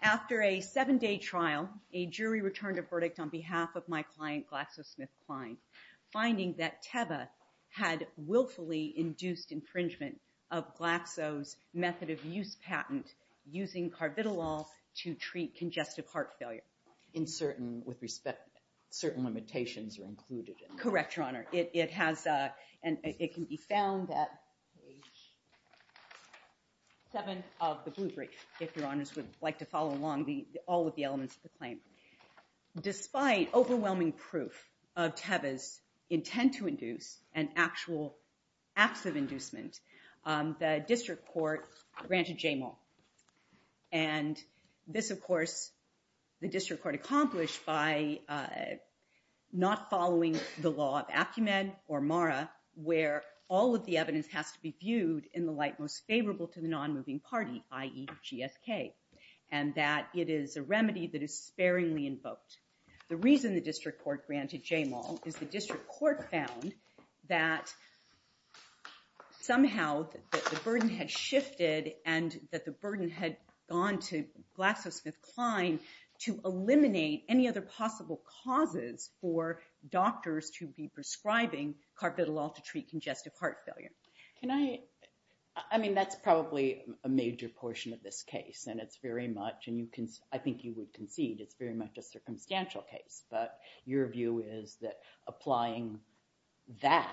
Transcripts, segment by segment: After a seven-day trial, a jury returned a verdict on behalf of my client GlaxoSmithKline, finding that Teva had willfully induced infringement of Glaxo's method of use patent using carbidolol to treat congestive heart failure. In certain, with respect, certain limitations are included. Correct, Your Honor. It has, and it can be found at page 7 of the Blue Brief, if Your Honors would like to follow along all of the elements of the claim. Despite overwhelming proof of Teva's intent to induce and actual acts of inducement, the district court granted Jamal. And this, of course, the district court accomplished by not following the law of Acumen or Mara, where all of the evidence has to be viewed in the light most favorable to the non-moving party, i.e. GSK. And that it is a remedy that is sparingly invoked. The reason the district court granted Jamal is the district court found that somehow that the burden had shifted and that the burden had gone to GlaxoSmithKline to eliminate any other possible causes for doctors to be prescribing carbidolol to treat congestive heart failure. Can I, I mean, that's probably a major portion of this case, and it's very much, and you can, I think you would concede it's very much a circumstantial case. But your view is that applying that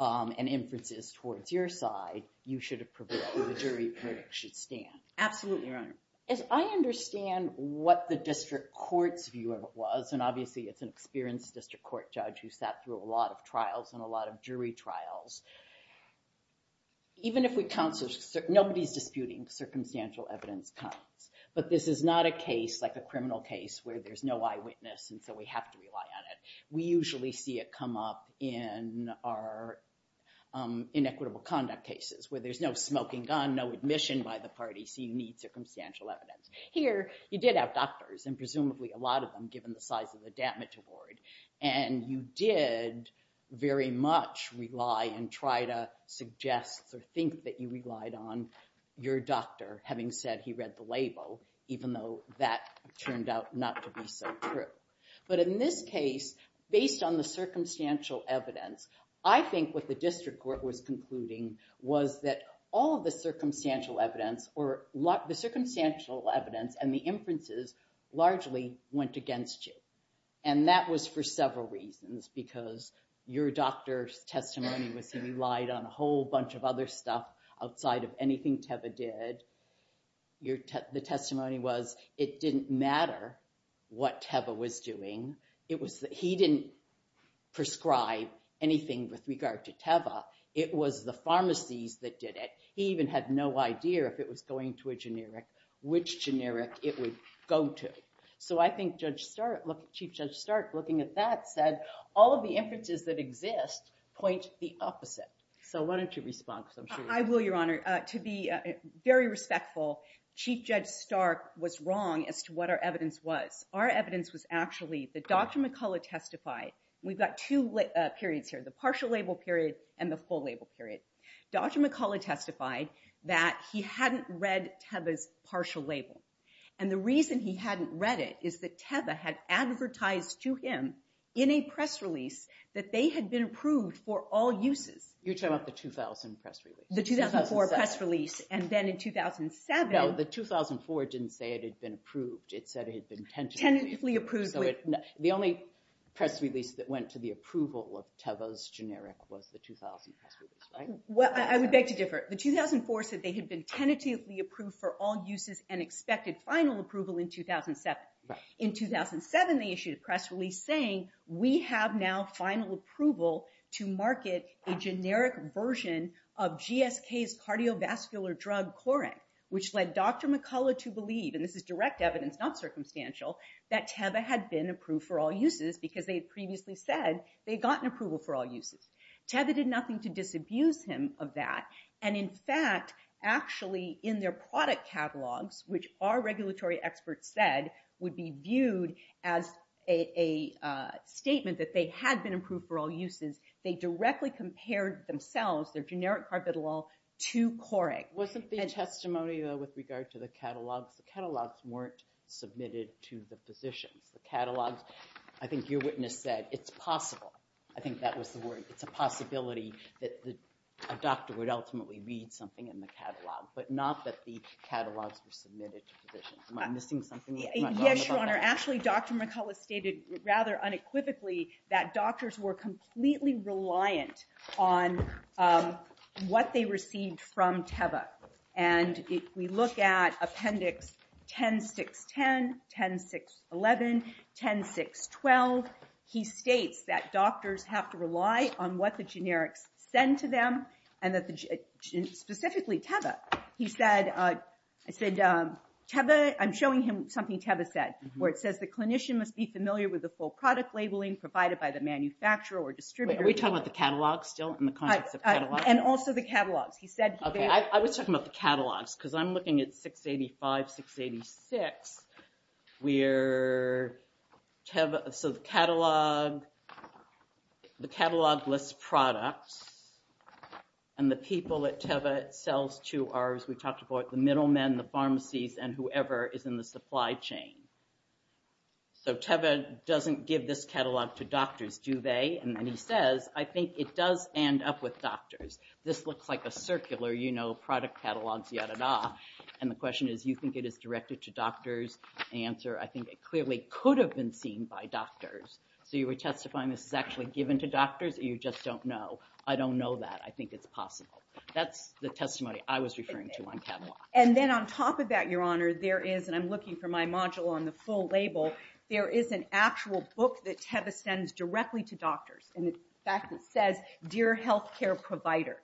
and inferences towards your side, you should have prevailed, the jury should stand. Absolutely, Your Honor. As I understand what the district court's view of it was, and obviously it's an experienced district court judge who sat through a lot of trials and a lot of jury trials. Even if we counsel, nobody's disputing circumstantial evidence counts, but this is not a case like a criminal case where there's no eyewitness, and so we have to rely on it. We usually see it come up in our inequitable conduct cases where there's no smoking gun, no admission by the party, so you need circumstantial evidence. Here, you did have doctors, and presumably a lot of them given the size of the damage award, and you did very much rely and try to suggest or think that you relied on your doctor having said he read the label, even though that turned out not to be so true. But in this case, based on the circumstantial evidence, I think what the district court was concluding was that all of the circumstantial evidence, or the circumstantial evidence and the inferences largely went against you. And that was for several reasons, because your doctor's testimony was that he relied on a whole bunch of other stuff outside of anything Teva did. The testimony was it didn't matter what Teva was doing, he didn't prescribe anything with regard to Teva, it was the pharmacies that did it. He even had no idea if it was going to a generic, which generic it would go to. So I think Chief Judge Stark, looking at that, said all of the inferences that exist point the opposite. So why don't you respond? I will, Your Honor. To be very respectful, Chief Judge Stark was wrong as to what our evidence was. Our evidence was actually that Dr. McCullough testified. We've got two periods here, the partial label period and the full label period. Dr. McCullough testified that he hadn't read Teva's partial label. And the reason he hadn't read it is that Teva had advertised to him in a press release that they had been approved for all uses. You're talking about the 2000 press release? The 2004 press release. And then in 2007... No, the 2004 didn't say it had been approved. It said it had been tentatively approved. The only press release that went to the approval of Teva's generic was the 2000 press release, right? Well, I would beg to differ. The 2004 said they had been tentatively approved for all uses and expected final approval in 2007. In 2007, they issued a press release saying, we have now final approval to market a generic version of GSK's cardiovascular drug, Corrin, which led Dr. McCullough to believe, and this is direct evidence, not circumstantial, that Teva had been approved for all uses because they had previously said they had gotten approval for all uses. Teva did nothing to disabuse him of that. And in fact, actually, in their product catalogs, which our regulatory experts said would be viewed as a statement that they had been approved for all uses, they directly compared themselves, their generic carbidolol, to Corrin. Wasn't the testimony, though, with regard to the catalogs? The catalogs weren't submitted to the physicians. The catalogs, I think your witness said, it's possible. I think that was the word. It's a possibility that a doctor would ultimately read something in the catalog, but not that the catalogs were submitted to physicians. Am I missing something? Yes, Your Honor. Actually, Dr. McCullough stated, rather unequivocally, that doctors were completely reliant on what they received from Teva. And if we look at Appendix 10610, 10611, 10612, he states that doctors have to rely on what the generics send to them, and specifically Teva. He said, I'm showing him something Teva said, where it says, the clinician must be familiar with the full product labeling provided by the manufacturer or distributor. Are we talking about the catalogs still, in the context of catalogs? And also the catalogs. He said he did. I was talking about the catalogs, because I'm looking at 685, 686, where the catalog lists products, and the people that Teva sells to are, as we talked about, the middlemen, the pharmacies, and whoever is in the supply chain. So Teva doesn't give this catalog to doctors, do they? And then he says, I think it does end up with doctors. This looks like a circular, you know, product catalogs, yada-da. And the question is, you think it is directed to doctors? The answer, I think it clearly could have been seen by doctors. So you were testifying this is actually given to doctors, or you just don't know? I don't know that. I think it's possible. That's the testimony I was referring to on catalogs. And then on top of that, Your Honor, there is, and I'm looking for my module on the full label, there is an actual book that Teva sends directly to doctors. And in fact, it says, Dear Healthcare Provider.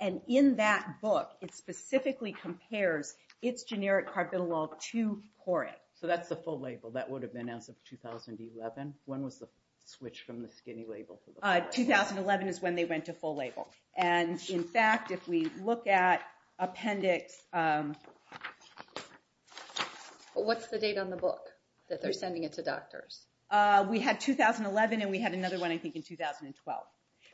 And in that book, it specifically compares its generic carbinolol to Poric. So that's the full label. That would have been as of 2011. When was the switch from the skinny label to the full label? 2011 is when they went to full label. And in fact, if we look at appendix... What's the date on the book that they're sending it to doctors? We had 2011, and we had another one, I think, in 2012.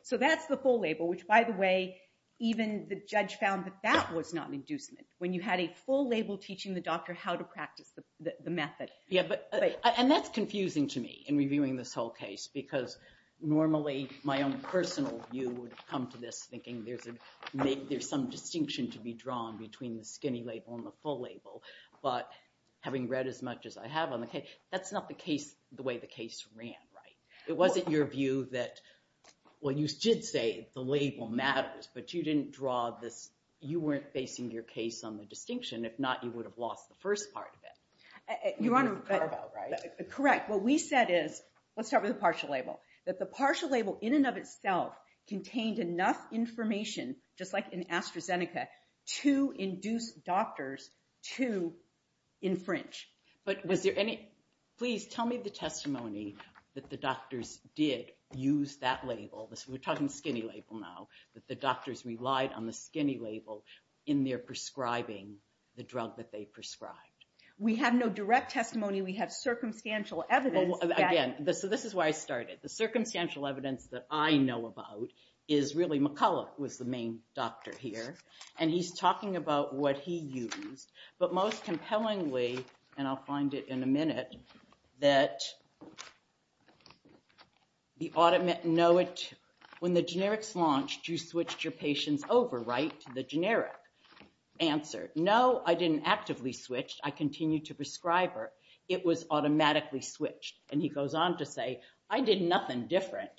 So that's the full label. Which, by the way, even the judge found that that was not an inducement. When you had a full label teaching the doctor how to practice the method. And that's confusing to me in reviewing this whole case. Because normally, my own personal view would come to this, thinking there's some distinction to be drawn between the skinny label and the full label. But having read as much as I have on the case, that's not the way the case ran, right? It wasn't your view that... Well, you did say the label matters, but you didn't draw this... You weren't basing your case on the distinction. If not, you would have lost the first part of it. You want to... Correct. What we said is... Let's start with the partial label. That the partial label in and of itself contained enough information, just like in AstraZeneca, to induce doctors to infringe. But was there any... Please tell me the testimony that the doctors did use that label. We're talking skinny label now. That the doctors relied on the skinny label in their prescribing the drug that they prescribed. We have no direct testimony. We have circumstantial evidence that... Again, this is why I started. The circumstantial evidence that I know about is really... McCulloch was the main doctor here. And he's talking about what he used. But most compellingly, and I'll find it in a minute, that the automatic... No, when the generics launched, you switched your patients over, right? To the generic answer. No, I didn't actively switch. I continued to prescribe her. It was automatically switched. And he goes on to say, I did nothing different.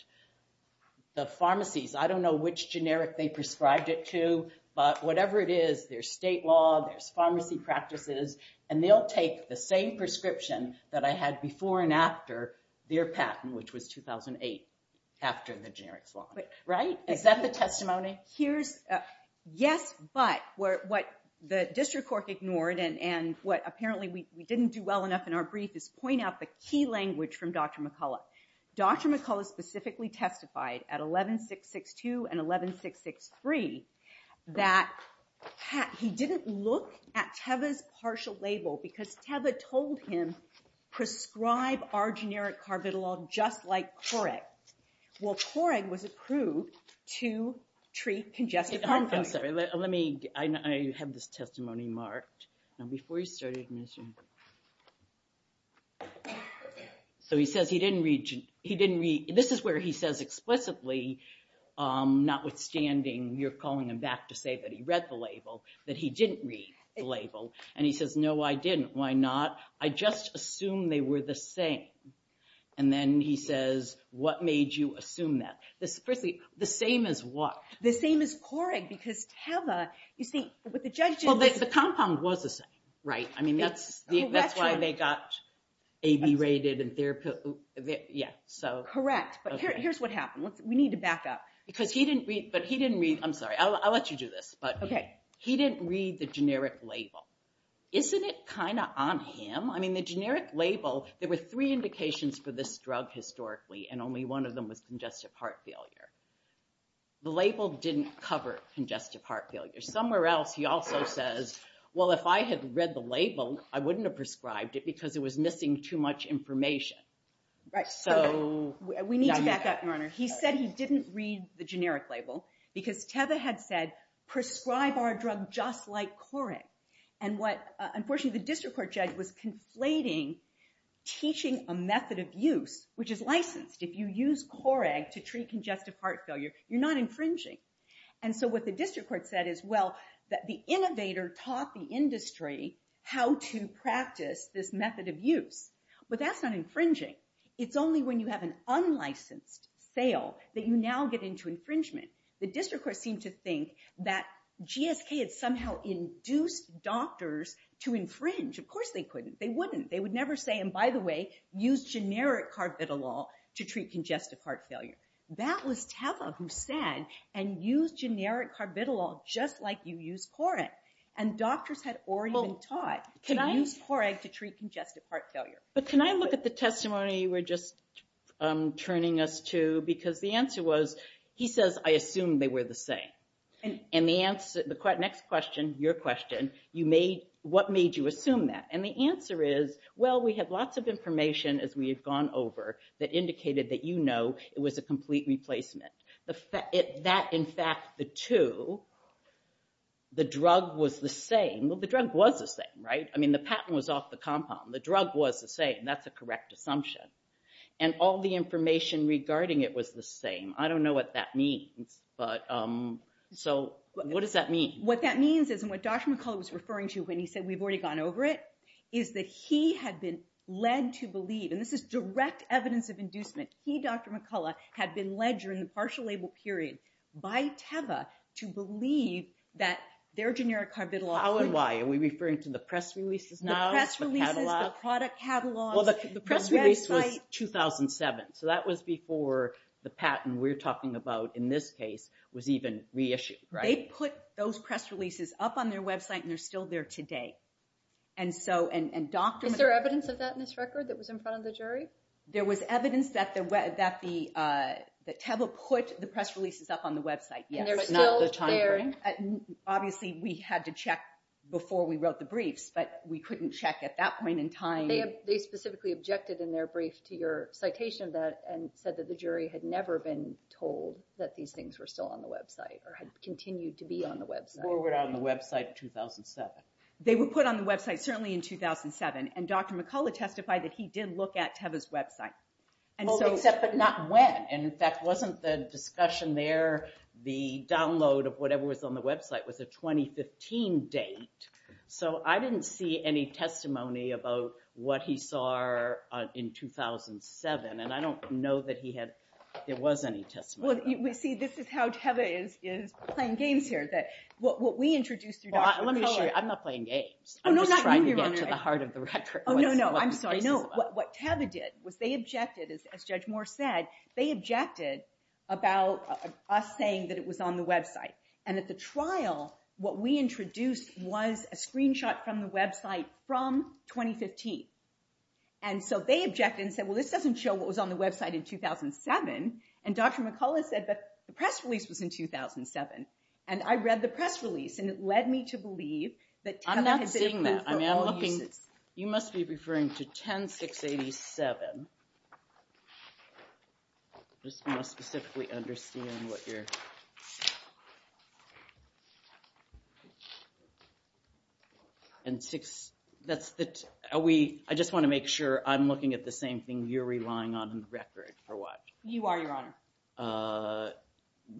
The pharmacies, I don't know which generic they prescribed it to. But whatever it is, there's state law, there's pharmacy practices. And they'll take the same prescription that I had before and after their patent, which was 2008, after the generics launch. Right? Is that the testimony? Yes, but what the district court ignored, and what apparently we didn't do well enough in our brief, is point out the key language from Dr. McCulloch. Dr. McCulloch specifically testified at 11662 and 11663 that he didn't look at Teva's partial label, because Teva told him, prescribe our generic carbidolol just like Korreg. Well, Korreg was approved to treat congestive heart failure. I'm sorry, let me... I have this testimony marked. Now, before you start administering... So he says he didn't read... This is where he says explicitly, notwithstanding you're calling him back to say that he read the label, that he didn't read the label. And he says, no, I didn't. Why not? I just assumed they were the same. And then he says, what made you assume that? Firstly, the same as what? The same as Korreg, because Teva... You see, with the judges... Well, the compound was the same, right? I mean, that's why they got AB rated. Yeah, so... Correct. But here's what happened. We need to back up. Because he didn't read... But he didn't read... I'm sorry, I'll let you do this. But he didn't read the generic label. Isn't it kind of on him? I mean, the generic label... There were three indications for this drug historically, and only one of them was congestive heart failure. The label didn't cover congestive heart failure. Somewhere else, he also says, well, if I had read the label, I wouldn't have prescribed it because it was missing too much information. Right, so we need to back up, Your Honor. He said he didn't read the generic label because Teva had said, prescribe our drug just like Korreg. And what, unfortunately, the district court judge was conflating teaching a method of use, which is licensed. If you use Korreg to treat congestive heart failure, you're not infringing. And so what the district court said is, well, the innovator taught the industry how to practice this method of use. But that's not infringing. It's only when you have an unlicensed sale that you now get into infringement. The district court seemed to think that GSK had somehow induced doctors to infringe. Of course they couldn't. They wouldn't. They would never say, and by the way, use generic carbidolol to treat congestive heart failure. That was Teva who said, and use generic carbidolol just like you use Korreg. And doctors had already been taught to use Korreg to treat congestive heart failure. But can I look at the testimony you were just turning us to? Because the answer was, he says, I assume they were the same. And the next question, your question, what made you assume that? And the answer is, well, we have lots of information as we have gone over that indicated that, you know, it was a complete replacement. That, in fact, the two, the drug was the same. Well, the drug was the same, right? I mean, the patent was off the compound. The drug was the same. That's a correct assumption. And all the information regarding it was the same. I don't know what that means. But so what does that mean? What that means is, and what Dr. McCullough was referring to when he said we've already gone over it, is that he had been led to believe, and this is direct evidence of inducement. He, Dr. McCullough, had been led during the partial label period by Teva to believe that their generic carbidolol. How and why? Are we referring to the press releases now? The press releases, the product catalog. Well, the press release was 2007. So that was before the patent we're talking about, in this case, was even reissued, right? They put those press releases up on their website, and they're still there today. And so, and Dr. Is there evidence of that in this record that was in front of the jury? There was evidence that Teva put the press releases up on the website, yes. And they're still there? Obviously, we had to check before we wrote the briefs, but we couldn't check at that point in time. They specifically objected in their brief to your citation of that, and said that the jury had never been told that these things were still on the website, or had continued to be on the website. Or were on the website in 2007. They were put on the website, certainly, in 2007. And Dr. McCullough testified that he did look at Teva's website. Only except, but not when. And in fact, wasn't the discussion there, the download of whatever was on the website, was a 2015 date. So I didn't see any testimony about what he saw in 2007. And I don't know that he had, there was any testimony. Well, you see, this is how Teva is playing games here. That what we introduced through Dr. McCullough. I'm not playing games. I'm just trying to get to the heart of the record. Oh, no, no. I'm sorry. No, what Teva did, was they objected, as Judge Moore said, they objected about us saying that it was on the website. And at the trial, what we introduced was a screenshot from the website from 2015. And so they objected and said, well, this doesn't show what was on the website in 2007. And Dr. McCullough said, but the press release was in 2007. And I read the press release. And it led me to believe that Teva had said that for all uses. I'm not seeing that. I mean, I'm looking, you must be referring to 10-687. I just want to specifically understand what you're saying. And six, that's the, are we, I just want to make sure I'm looking at the same thing you're relying on in the record for what? You are, Your Honor.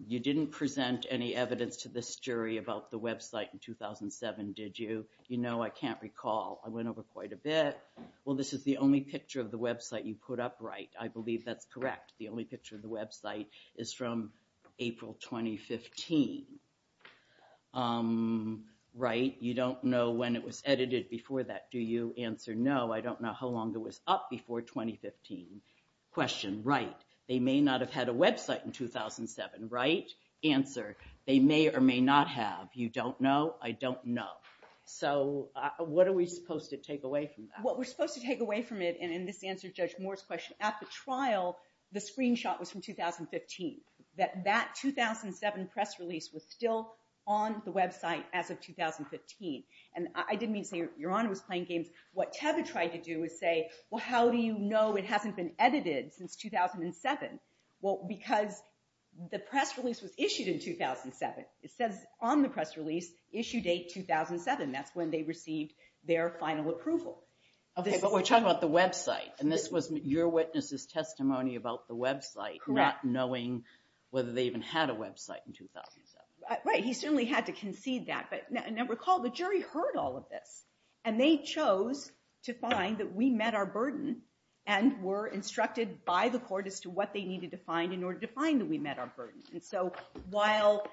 You didn't present any evidence to this jury about the website in 2007, did you? You know, I can't recall. I went over quite a bit. Well, this is the only picture of the website you put up, right? I believe that's correct. The only picture of the website is from April 2015, right? You don't know when it was edited before that, do you? Answer, no. I don't know how long it was up before 2015. Question, right. They may not have had a website in 2007, right? Answer, they may or may not have. You don't know? I don't know. So what are we supposed to take away from that? What we're supposed to take away from it, and this answers Judge Moore's question, at the trial, the screenshot was from 2015, that that 2007 press release was still on the website as of 2015. And I didn't mean to say Your Honor was playing games. What Teva tried to do is say, well, how do you know it hasn't been edited since 2007? Well, because the press release was issued in 2007. It says on the press release, issue date 2007. That's when they received their final approval. But we're talking about the website. And this was your witness's testimony about the website, not knowing whether they even had a website in 2007. Right. He certainly had to concede that. But now recall, the jury heard all of this. And they chose to find that we met our burden and were instructed by the court as to what they needed to find in order to find that we met our burden. And so while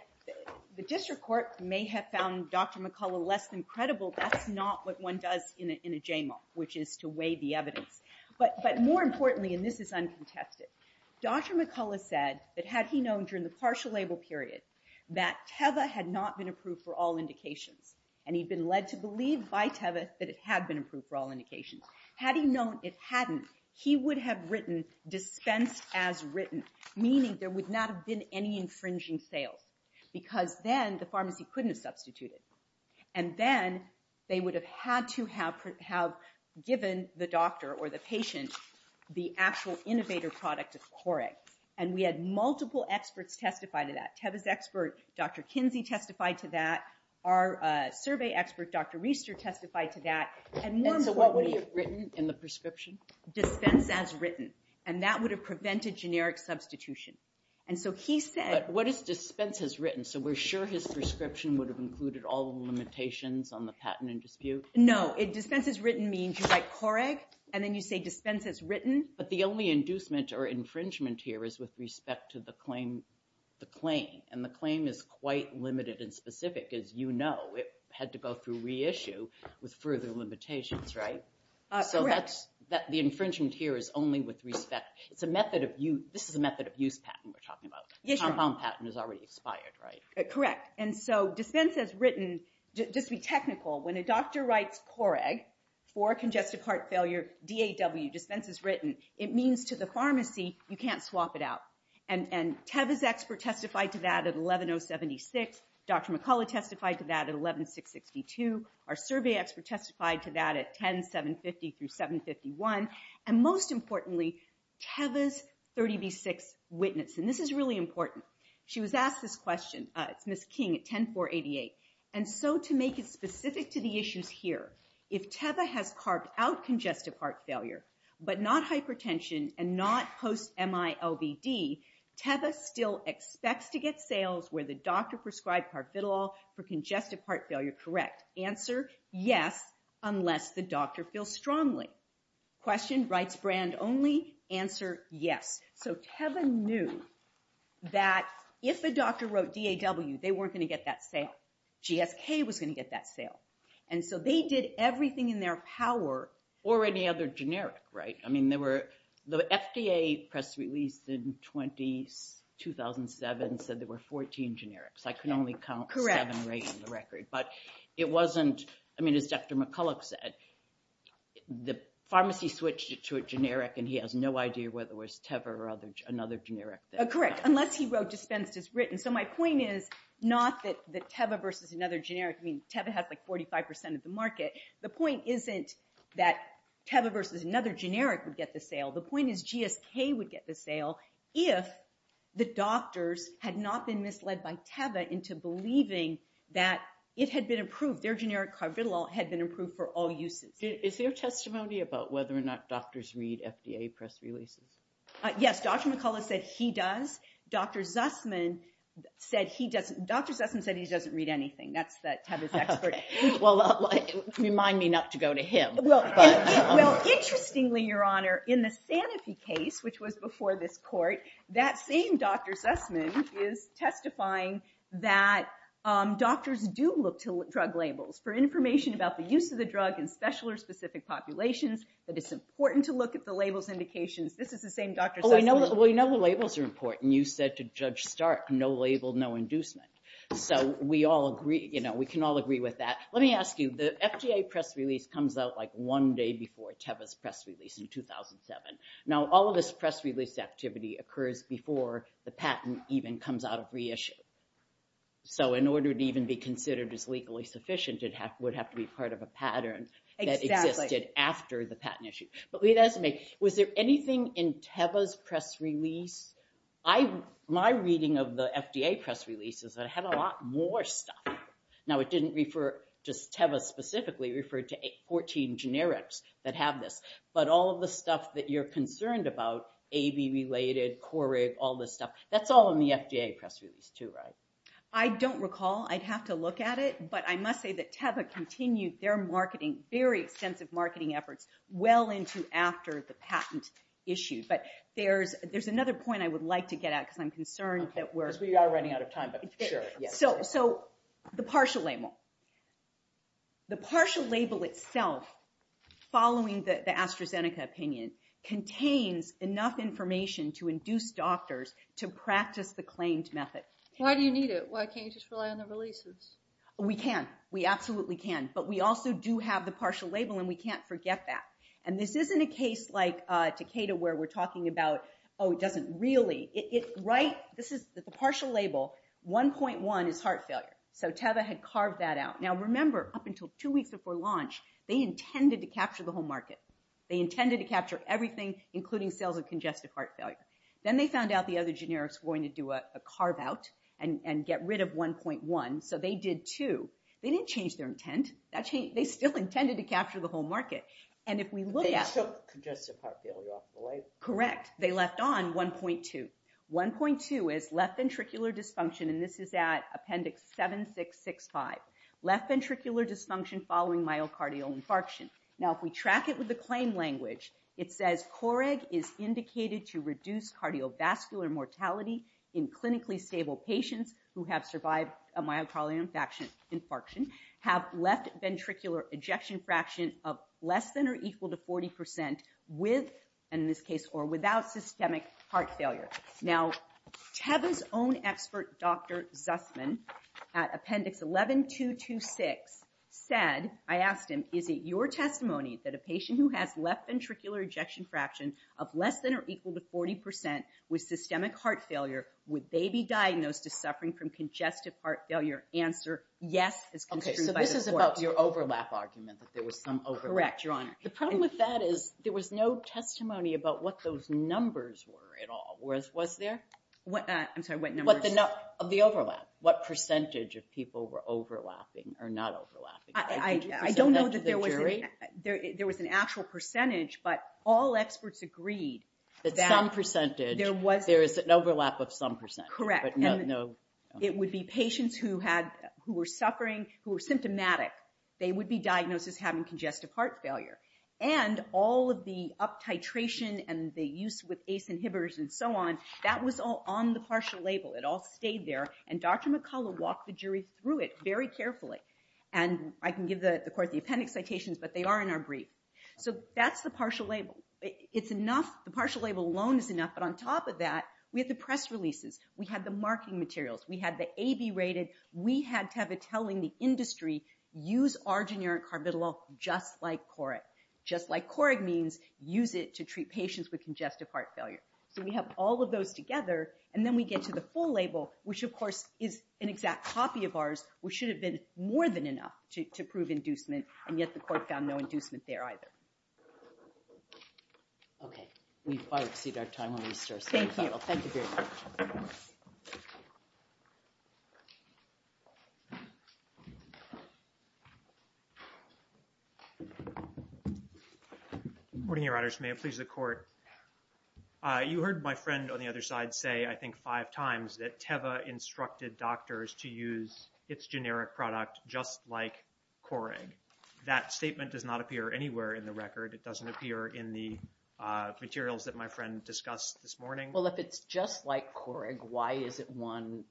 the district court may have found Dr. McCullough less than credible, that's not what one does in a JMOC, which is to weigh the evidence. But more importantly, and this is uncontested, Dr. McCullough said that had he known during the partial label period that Teva had not been approved for all indications, and he'd been led to believe by Teva that it had been approved for all indications, had he known it hadn't, he would have written dispensed as written, meaning there would not have been any infringing sales. Because then the pharmacy couldn't have substituted. And then they would have had to have given the doctor or the patient the actual innovator product of Coreg. And we had multiple experts testify to that. Teva's expert, Dr. Kinsey, testified to that. Our survey expert, Dr. Riester, testified to that. And so what would he have written in the prescription? Dispense as written. And that would have prevented generic substitution. And so he said, what is dispense as written? So we're sure his prescription would have included all the limitations on the patent and dispute? No. Dispense as written means you write Coreg, and then you say dispense as written. But the only inducement or infringement here is with respect to the claim. And the claim is quite limited and specific, as you know. It had to go through reissue with further limitations, right? So the infringement here is only with respect. It's a method of use. This is a method of use patent we're talking about. The compound patent is already expired, right? Correct. And so dispense as written, just to be technical, when a doctor writes Coreg for congestive heart failure, DAW, dispense as written, it means to the pharmacy, you can't swap it out. And Teva's expert testified to that at 11-076. Dr. McCullough testified to that at 11-662. Our survey expert testified to that at 10-750 through 751. And most importantly, Teva's 30B6 witness. And this is really important. She was asked this question. It's Miss King at 10-488. And so to make it specific to the issues here, if Teva has carved out congestive heart failure, but not hypertension, and not post-MILVD, Teva still expects to get sales where the doctor prescribed parvitalol for congestive heart failure, correct? Answer, yes, unless the doctor feels strongly. Question, rights brand only? Answer, yes. So Teva knew that if a doctor wrote DAW, they weren't going to get that sale. GSK was going to get that sale. And so they did everything in their power. Or any other generic, right? I mean, the FDA press release in 2007 said there were 14 generics. I can only count seven right on the record. But it wasn't, I mean, as Dr. McCullough said, the pharmacy switched it to a generic. And he has no idea whether it was Teva or another generic. Correct, unless he wrote dispensed as written. So my point is not that Teva versus another generic. I mean, Teva has like 45% of the market. The point isn't that Teva versus another generic would get the sale. The point is GSK would get the sale if the doctors had not been misled by Teva into believing that it had been approved, their generic parvitalol had been approved for all uses. Is there testimony about whether or not doctors read FDA press releases? Yes, Dr. McCullough said he does. Dr. Zussman said he doesn't. Dr. Zussman said he doesn't read anything. That's Teva's expert. Well, remind me not to go to him. Well, interestingly, Your Honor, in the Sanofi case, which was before this court, that same Dr. Zussman is testifying that doctors do look to drug labels for information about the use of the drug in special or specific populations, that it's important to look at the labels indications. This is the same Dr. Zussman. Well, we know the labels are important. You said to Judge Stark, no label, no inducement. So we all agree, you know, we can all agree with that. Let me ask you, the FDA press release comes out like one day before Teva's press release in 2007. Now, all of this press release activity occurs before the patent even comes out of reissue. So in order to even be considered as legally sufficient, it would have to be part of a pattern that existed after the patent issue. But let me ask you, was there anything in Teva's press release? My reading of the FDA press release is that it had a lot more stuff. Now, it didn't refer just Teva specifically, it referred to 14 generics that have this. But all of the stuff that you're concerned about, AB related, Core-Rig, all this stuff, that's all in the FDA press release too, right? I don't recall, I'd have to look at it. But I must say that Teva continued their marketing, very extensive marketing efforts well into after the patent issue. But there's another point I would like to get at because I'm concerned that we're- Because we are running out of time, but sure. So the partial label. The partial label itself, following the AstraZeneca opinion, contains enough information to induce doctors to practice the claimed method. Why do you need it? Why can't you just rely on the releases? We can, we absolutely can. But we also do have the partial label and we can't forget that. And this isn't a case like Takeda where we're talking about, oh, it doesn't really. Right, this is the partial label, 1.1 is heart failure. So Teva had carved that out. Now remember, up until two weeks before launch, they intended to capture the whole market. They intended to capture everything, including sales of congestive heart failure. Then they found out the other generics were going to do a carve out and get rid of 1.1. So they did two. They didn't change their intent. They still intended to capture the whole market. And if we look at- They took congestive heart failure off the label. Correct, they left on 1.2. 1.2 is left ventricular dysfunction, and this is at appendix 7665. Left ventricular dysfunction following myocardial infarction. Now, if we track it with the claim language, it says COREG is indicated to reduce cardiovascular mortality in clinically stable patients who have survived a myocardial infarction. Have left ventricular ejection fraction of less than or equal to 40% with, in this case, or without systemic heart failure. Now, Teva's own expert, Dr. Zussman, at appendix 11226 said, I asked him, is it your testimony that a patient who has left ventricular ejection fraction of less than or equal to 40% with systemic heart failure, would they be diagnosed as suffering from congestive heart failure? Answer, yes, as construed by the court. Okay, so this is about your overlap argument, that there was some overlap. Correct, Your Honor. The problem with that is there was no testimony about what those numbers were at all. Was there? I'm sorry, what numbers? Of the overlap. What percentage of people were overlapping or not overlapping? I don't know that there was- Could you present that to the jury? There was an actual percentage, but all experts agreed that- That some percentage, there is an overlap of some percentage. Correct. No. It would be patients who were suffering, who were symptomatic. They would be diagnosed as having congestive heart failure. And all of the up titration and the use with ACE inhibitors and so on, that was all on the partial label. It all stayed there. And Dr. McCullough walked the jury through it very carefully. And I can give the court the appendix citations, but they are in our brief. So that's the partial label. It's enough, the partial label alone is enough. But on top of that, we had the press releases. We had the marketing materials. We had the AB rated. We had Teva telling the industry, use arginine carbidolol just like Correg. Just like Correg means, use it to treat patients with congestive heart failure. So we have all of those together. And then we get to the full label, which of course is an exact copy of ours, which should have been more than enough to prove inducement. And yet the court found no inducement there either. Okay. We've probably exceeded our time on these. Thank you. Thank you very much. Good morning, Your Honors. May it please the court. You heard my friend on the other side say, I think five times, that Teva instructed doctors to use its generic product just like Correg. That statement does not appear anywhere in the record. It doesn't appear in the materials that my friend discussed this morning. Well, if it's just like Correg, why is it one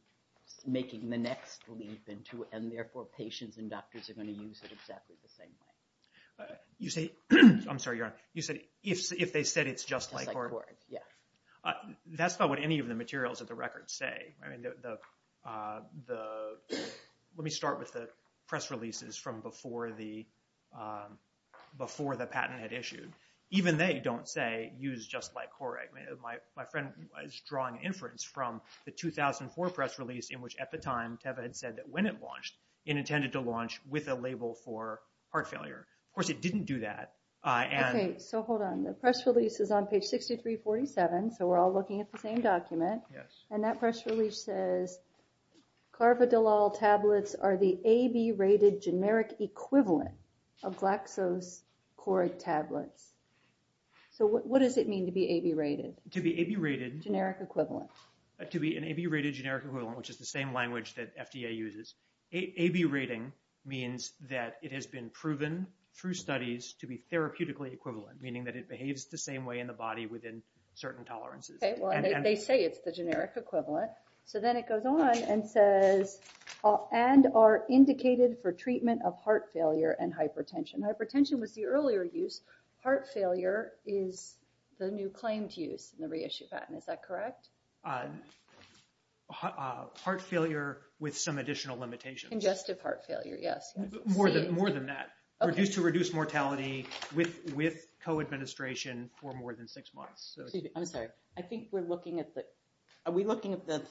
making the next leap into it, and therefore patients and doctors are going to use it exactly the same way? You say, I'm sorry, Your Honor. You said, if they said it's just like Correg. Yeah. That's not what any of the materials of the record say. I mean, let me start with the press releases from before the patent had issued. Even they don't say, use just like Correg. My friend is drawing inference from the 2004 press release in which at the time Teva had said that when it launched, it intended to launch with a label for heart failure. Of course, it didn't do that. Okay, so hold on. The press release is on page 6347, so we're all looking at the same document. And that press release says, Carvodilol tablets are the AB rated generic equivalent of GlaxoCorreg tablets. So what does it mean to be AB rated? To be AB rated. Generic equivalent. To be an AB rated generic equivalent, which is the same language that FDA uses. AB rating means that it has been proven through studies to be therapeutically equivalent, meaning that it behaves the same way in the body within certain tolerances. Okay, well, they say it's the generic equivalent. So then it goes on and says, and are indicated for treatment of heart failure and hypertension. Hypertension was the earlier use. Heart failure is the new claimed use in the reissue patent, is that correct? Heart failure with some additional limitations. Congestive heart failure, yes. More than that. Reduced to reduced mortality with co-administration for more than six months. I'm sorry, I think we're looking at the, are we looking at the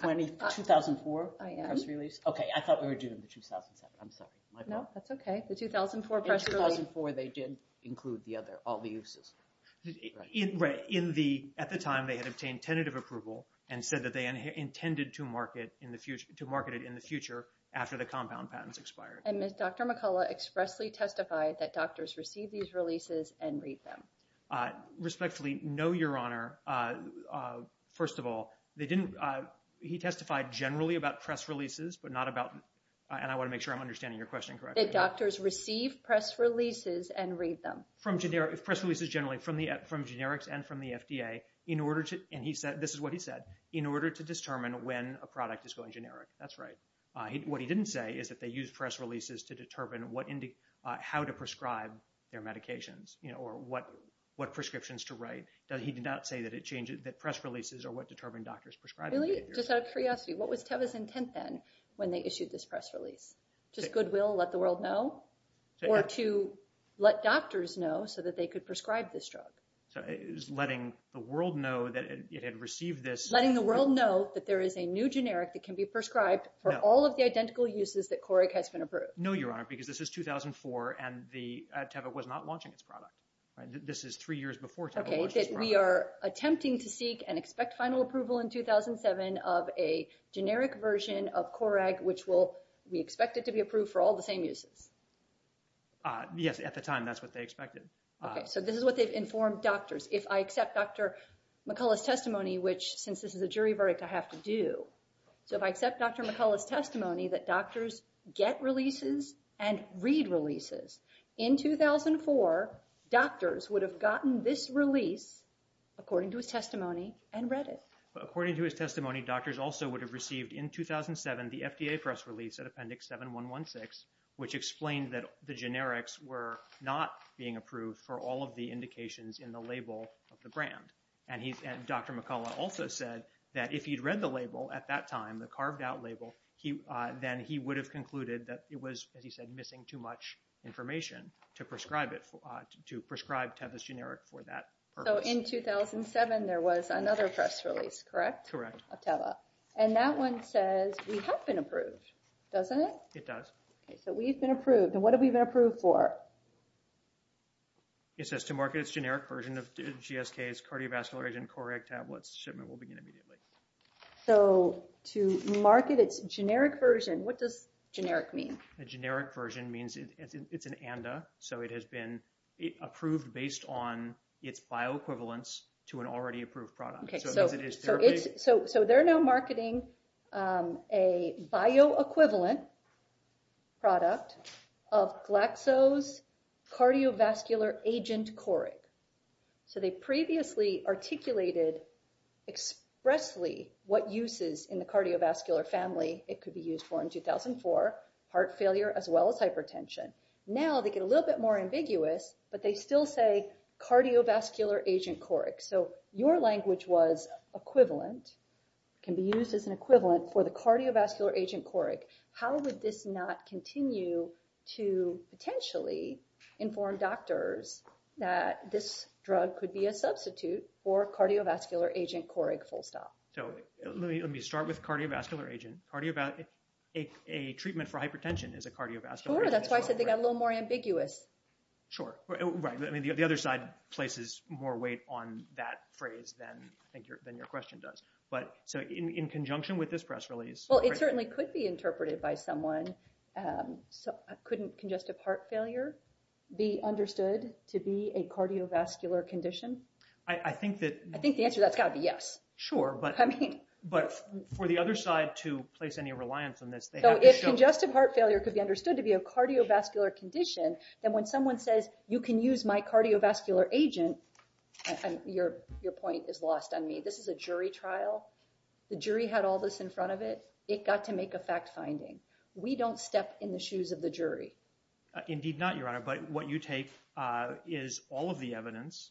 2004 press release? Okay, I thought we were doing the 2007. I'm sorry, my bad. No, that's okay. The 2004 press release. In 2004, they did include the other, all the uses. Right, at the time, they had obtained tentative approval and said that they intended to market it in the future after the compound patents expired. And did Dr. McCullough expressly testify that doctors receive these releases and read them? Respectfully, no, Your Honor. First of all, they didn't, he testified generally about press releases, but not about, and I want to make sure I'm understanding your question correctly. That doctors receive press releases and read them. From generic, press releases generally from generics and from the FDA in order to, and he said, this is what he said, in order to determine when a product is going generic. That's right. What he didn't say is that they use press releases to determine what, how to prescribe their medications or what prescriptions to write. He did not say that it changes, that press releases are what determine doctors prescribing. Really, just out of curiosity, what was Teva's intent then when they issued this press release? Just goodwill, let the world know? Or to let doctors know so that they could prescribe this drug? So it was letting the world know that it had received this. Letting the world know that there is a new generic that can be prescribed for all of the identical uses that Coreg has been approved. No, Your Honor, because this is 2004 and Teva was not launching its product. This is three years before Teva launched its product. Okay, that we are attempting to seek and expect final approval in 2007 of a generic version of Coreg, which we expect it to be approved for all the same uses. Yes, at the time, that's what they expected. Okay, so this is what they've informed doctors. If I accept Dr. McCullough's testimony, which, since this is a jury verdict, I have to do. So if I accept Dr. McCullough's testimony that doctors get releases and read releases, in 2004, doctors would have gotten this release according to his testimony and read it. According to his testimony, doctors also would have received, in 2007, the FDA press release at Appendix 7116, which explained that the generics were not being approved for all of the indications in the label of the brand. And Dr. McCullough also said that if he'd read the label at that time, the carved-out label, then he would have concluded that it was, as he said, missing too much information to prescribe it, to prescribe Teva's generic for that purpose. So in 2007, there was another press release, correct? Correct. Of Teva. And that one says we have been approved, doesn't it? It does. Okay, so we've been approved. And what have we been approved for? It says to market its generic version of GSK's cardiovascular agent, Chlorhex tablets. Shipment will begin immediately. So to market its generic version, what does generic mean? A generic version means it's an ANDA, so it has been approved based on its bioequivalence to an already approved product. Okay, so they're now marketing a bioequivalent product of Glaxo's cardiovascular agent, Coric. So they previously articulated expressly what uses in the cardiovascular family it could be used for in 2004, heart failure as well as hypertension. Now they get a little bit more ambiguous, but they still say cardiovascular agent Coric. So your language was equivalent, can be used as an equivalent for the cardiovascular agent Coric. How would this not continue to potentially inform doctors that this drug could be a substitute for cardiovascular agent Coric full stop? So let me start with cardiovascular agent. A treatment for hypertension is a cardiovascular agent. Sure, that's why I said they got a little more ambiguous. Sure, right, I mean the other side places more weight on that phrase than your question does. But so in conjunction with this press release. Well, it certainly could be interpreted by someone. So couldn't congestive heart failure be understood to be a cardiovascular condition? I think that. I think the answer to that's got to be yes. Sure, but for the other side to place any reliance on this, they have to show. So if congestive heart failure could be understood to be a cardiovascular condition, then when someone says you can use my cardiovascular agent, your point is lost on me. This is a jury trial. The jury had all this in front of it. It got to make a fact finding. We don't step in the shoes of the jury. Indeed not, Your Honor, but what you take is all of the evidence,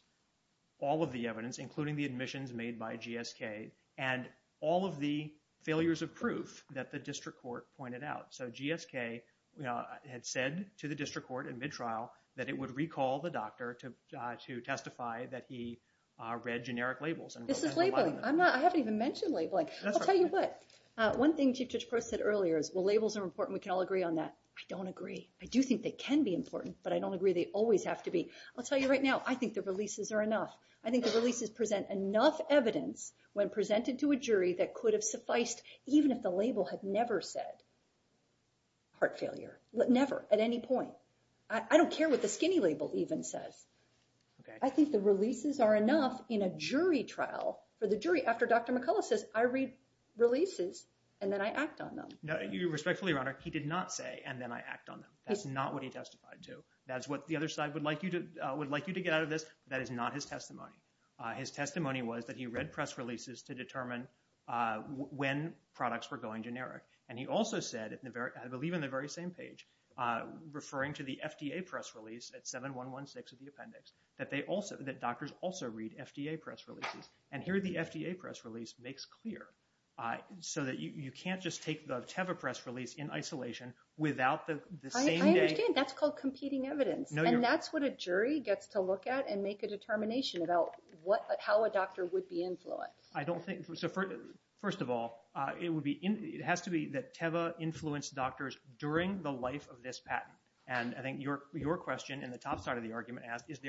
all of the evidence, including the admissions made by GSK and all of the failures of proof So GSK had said to the district court in mid trial that it would recall the doctor to testify that he read generic labels. This is labeling. I haven't even mentioned labeling. I'll tell you what. One thing Chief Judge Prost said earlier is well, labels are important. We can all agree on that. I don't agree. I do think they can be important, but I don't agree they always have to be. I'll tell you right now, I think the releases are enough. I think the releases present enough evidence when presented to a jury that could have sufficed even if the label had never said heart failure. Never at any point. I don't care what the skinny label even says. I think the releases are enough in a jury trial for the jury after Dr. McCullough says I read releases and then I act on them. No, respectfully, Your Honor, he did not say and then I act on them. That's not what he testified to. That's what the other side would like you to get out of this. That is not his testimony. His testimony was that he read press releases to determine when products were going generic. And he also said, I believe in the very same page, referring to the FDA press release at 7116 of the appendix, that doctors also read FDA press releases. And here the FDA press release makes clear so that you can't just take the Teva press release in isolation without the same day. I understand. That's called competing evidence. And that's what a jury gets to look at and make a determination about how a doctor would be influenced. I don't think, so first of all, it has to be that Teva influenced doctors during the life of this patent. And I think your question in the top side of the argument asked, is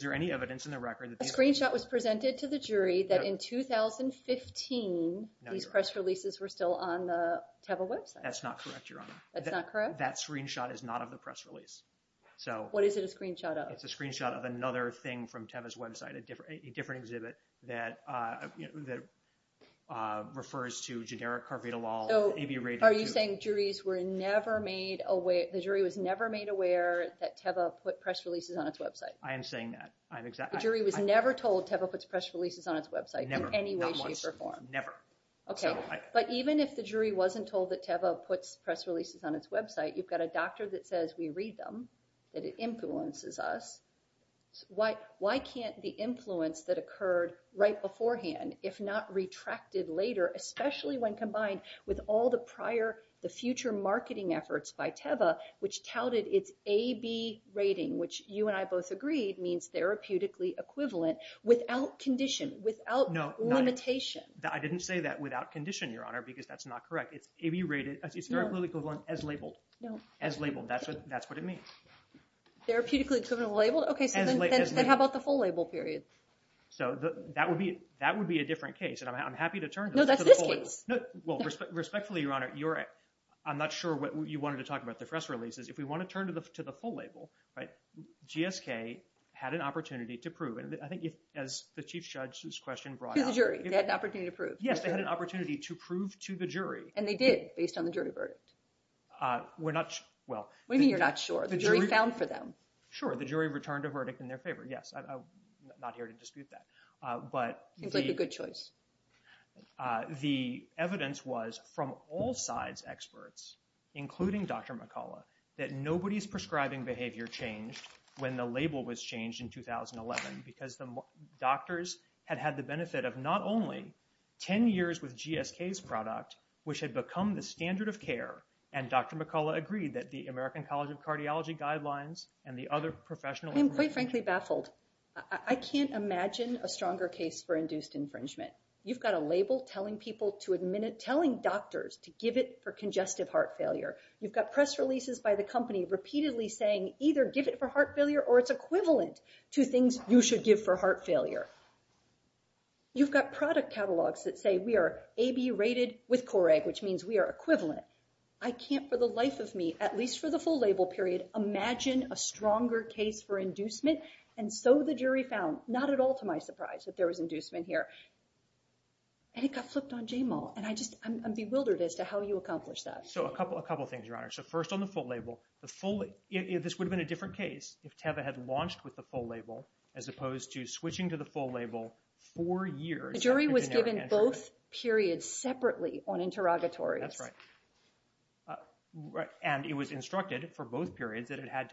there any evidence in the record that this- A screenshot was presented to the jury that in 2015, these press releases were still on the Teva website. That's not correct, Your Honor. That's not correct? That screenshot is not of the press release. So- What is it a screenshot of? It's a screenshot of another thing from Teva's website, a different exhibit that refers to generic carfetolol. Are you saying the jury was never made aware that Teva put press releases on its website? I am saying that. The jury was never told Teva puts press releases on its website in any way, shape, or form? Never. Okay, but even if the jury wasn't told that Teva puts press releases on its website, you've got a doctor that says we read them, that it influences us. Why can't the influence that occurred right beforehand, if not retracted later, especially when combined with all the prior, the future marketing efforts by Teva, which touted its A-B rating, which you and I both agreed means therapeutically equivalent without condition, without limitation? I didn't say that without condition, Your Honor, because that's not correct. It's A-B rated, it's therapeutically equivalent as labeled. As labeled, that's what it means. Therapeutically equivalent labeled? Okay, so then how about the full label period? So that would be a different case, and I'm happy to turn to- No, that's this case. Respectfully, Your Honor, I'm not sure what you wanted to talk about, the press releases. If we want to turn to the full label, GSK had an opportunity to prove, and I think as the Chief Judge's question brought up- To the jury, they had an opportunity to prove. Yes, they had an opportunity to prove to the jury. And they did, based on the jury verdict. We're not, well- What do you mean you're not sure? The jury found for them. Sure, the jury returned a verdict in their favor, yes. I'm not here to dispute that, but- Seems like a good choice. The evidence was from all sides' experts, including Dr. McCullough, that nobody's prescribing behavior changed when the label was changed in 2011, because the doctors had had the benefit of not only 10 years with GSK's product, which had become the standard of care, and Dr. McCullough agreed that the American College of Cardiology guidelines and the other professional- I am quite frankly baffled. I can't imagine a stronger case for induced infringement. You've got a label telling people to admit it, telling doctors to give it for congestive heart failure. You've got press releases by the company repeatedly saying either give it for heart failure or it's equivalent to things you should give for heart failure. You've got product catalogs that say we are AB rated with Coreg, which means we are equivalent. I can't for the life of me, at least for the full label period, imagine a stronger case for inducement. And so the jury found, not at all to my surprise, that there was inducement here. And it got flipped on J-Mall, and I'm just bewildered as to how you accomplished that. So a couple of things, Your Honor. So first on the full label, the full- this would have been a different case if TEVA had launched with the full label as opposed to switching to the full label four years- The jury was given both periods separately on interrogatories. That's right. And it was instructed for both periods that it had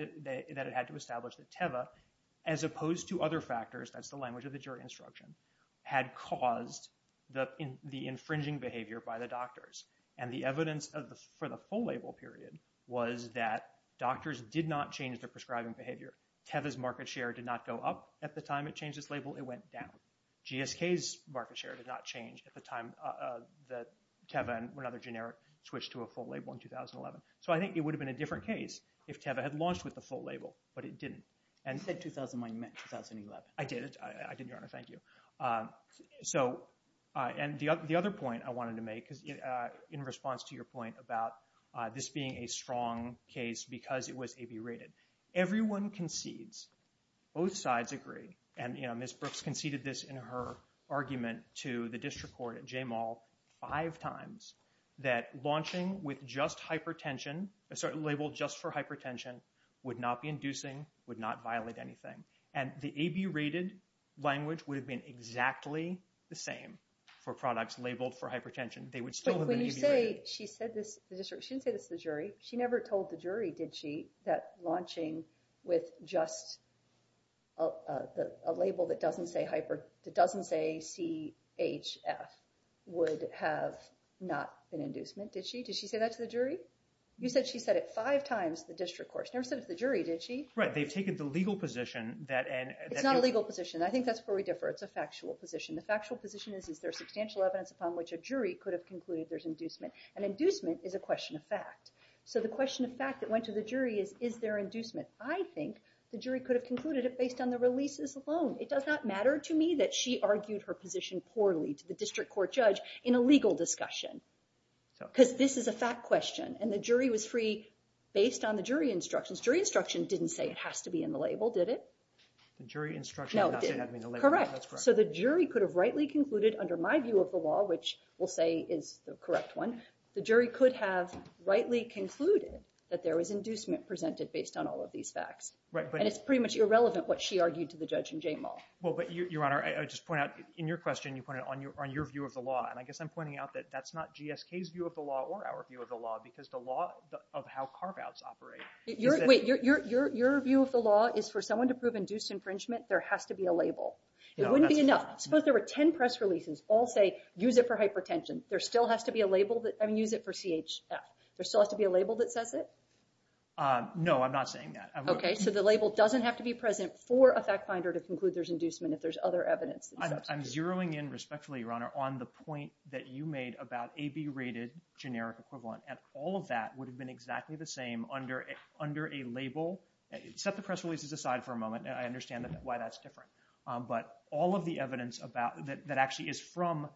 to establish the TEVA as opposed to other factors, that's the language of the jury instruction, had caused the infringing behavior by the doctors. And the evidence for the full label period was that doctors did not change their prescribing behavior. TEVA's market share did not go up at the time it changed its label, it went down. GSK's market share did not change at the time that TEVA and another generic switched to a full label in 2011. So I think it would have been a different case if TEVA had launched with the full label, but it didn't. And- You said 2009 meant 2011. I did, Your Honor, thank you. So, and the other point I wanted to make, because in response to your point about this being a strong case because it was A-B rated, everyone concedes, both sides agree, and Ms. Brooks conceded this in her argument to the district court at J-Mall five times, that launching with just hypertension, a certain label just for hypertension would not be inducing, would not violate anything. And the A-B rated language would have been exactly the same for products labeled for hypertension. They would still have been A-B rated. But when you say she said this, the district, she didn't say this to the jury. She never told the jury, did she, that launching with just a label that doesn't say CHF would have not been inducement, did she? Did she say that to the jury? You said she said it five times to the district court. She never said it to the jury, did she? Right, they've taken the legal position that- It's not a legal position. I think that's where we differ. It's a factual position. The factual position is, is there substantial evidence upon which a jury could have concluded there's inducement? And inducement is a question of fact. So the question of fact that went to the jury is, is there inducement? I think the jury could have concluded it based on the releases alone. It does not matter to me that she argued her position poorly to the district court judge in a legal discussion, because this is a fact question. And the jury was free based on the jury instructions. Jury instruction didn't say it has to be in the label, did it? The jury instruction did not say it had to be in the label. Correct. So the jury could have rightly concluded under my view of the law, which we'll say is the correct one, the jury could have rightly concluded that there was inducement presented based on all of these facts. Right, but- And it's pretty much irrelevant what she argued to the judge in Jay Mall. Well, but Your Honor, I just point out, in your question, you pointed on your view of the law. And I guess I'm pointing out that that's not GSK's view of the law or our view of the law, because the law of how carve-outs operate- Wait, your view of the law is for someone to prove induced infringement, there has to be a label. It wouldn't be enough. Suppose there were 10 press releases, all say, use it for hypertension. There still has to be a label that, I mean, use it for CHF. There still has to be a label that says it? No, I'm not saying that. Okay, so the label doesn't have to be present for a fact finder to conclude there's inducement if there's other evidence. I'm zeroing in respectfully, Your Honor, on the point that you made about AB rated generic equivalent. And all of that would have been exactly the same under a label. Set the press releases aside for a moment. I understand why that's different. But all of the evidence that actually is from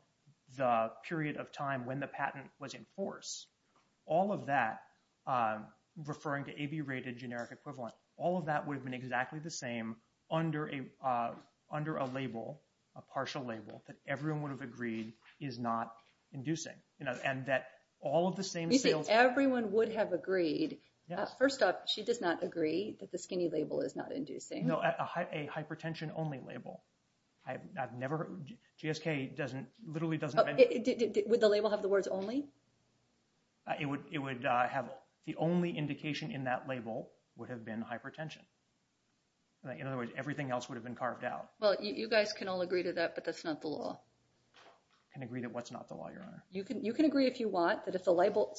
the period of time when the patent was in force, all of that, referring to AB rated generic equivalent, all of that would have been exactly the same under a label, a partial label, that everyone would have agreed is not inducing. And that all of the same sales- First up, she does not agree that the skinny label is not inducing. No, a hypertension only label. I've never, GSK doesn't, literally doesn't have any- Would the label have the words only? It would have, the only indication in that label would have been hypertension. In other words, everything else would have been carved out. Well, you guys can all agree to that, but that's not the law. Can agree to what's not the law, Your Honor. You can agree if you want, that if the label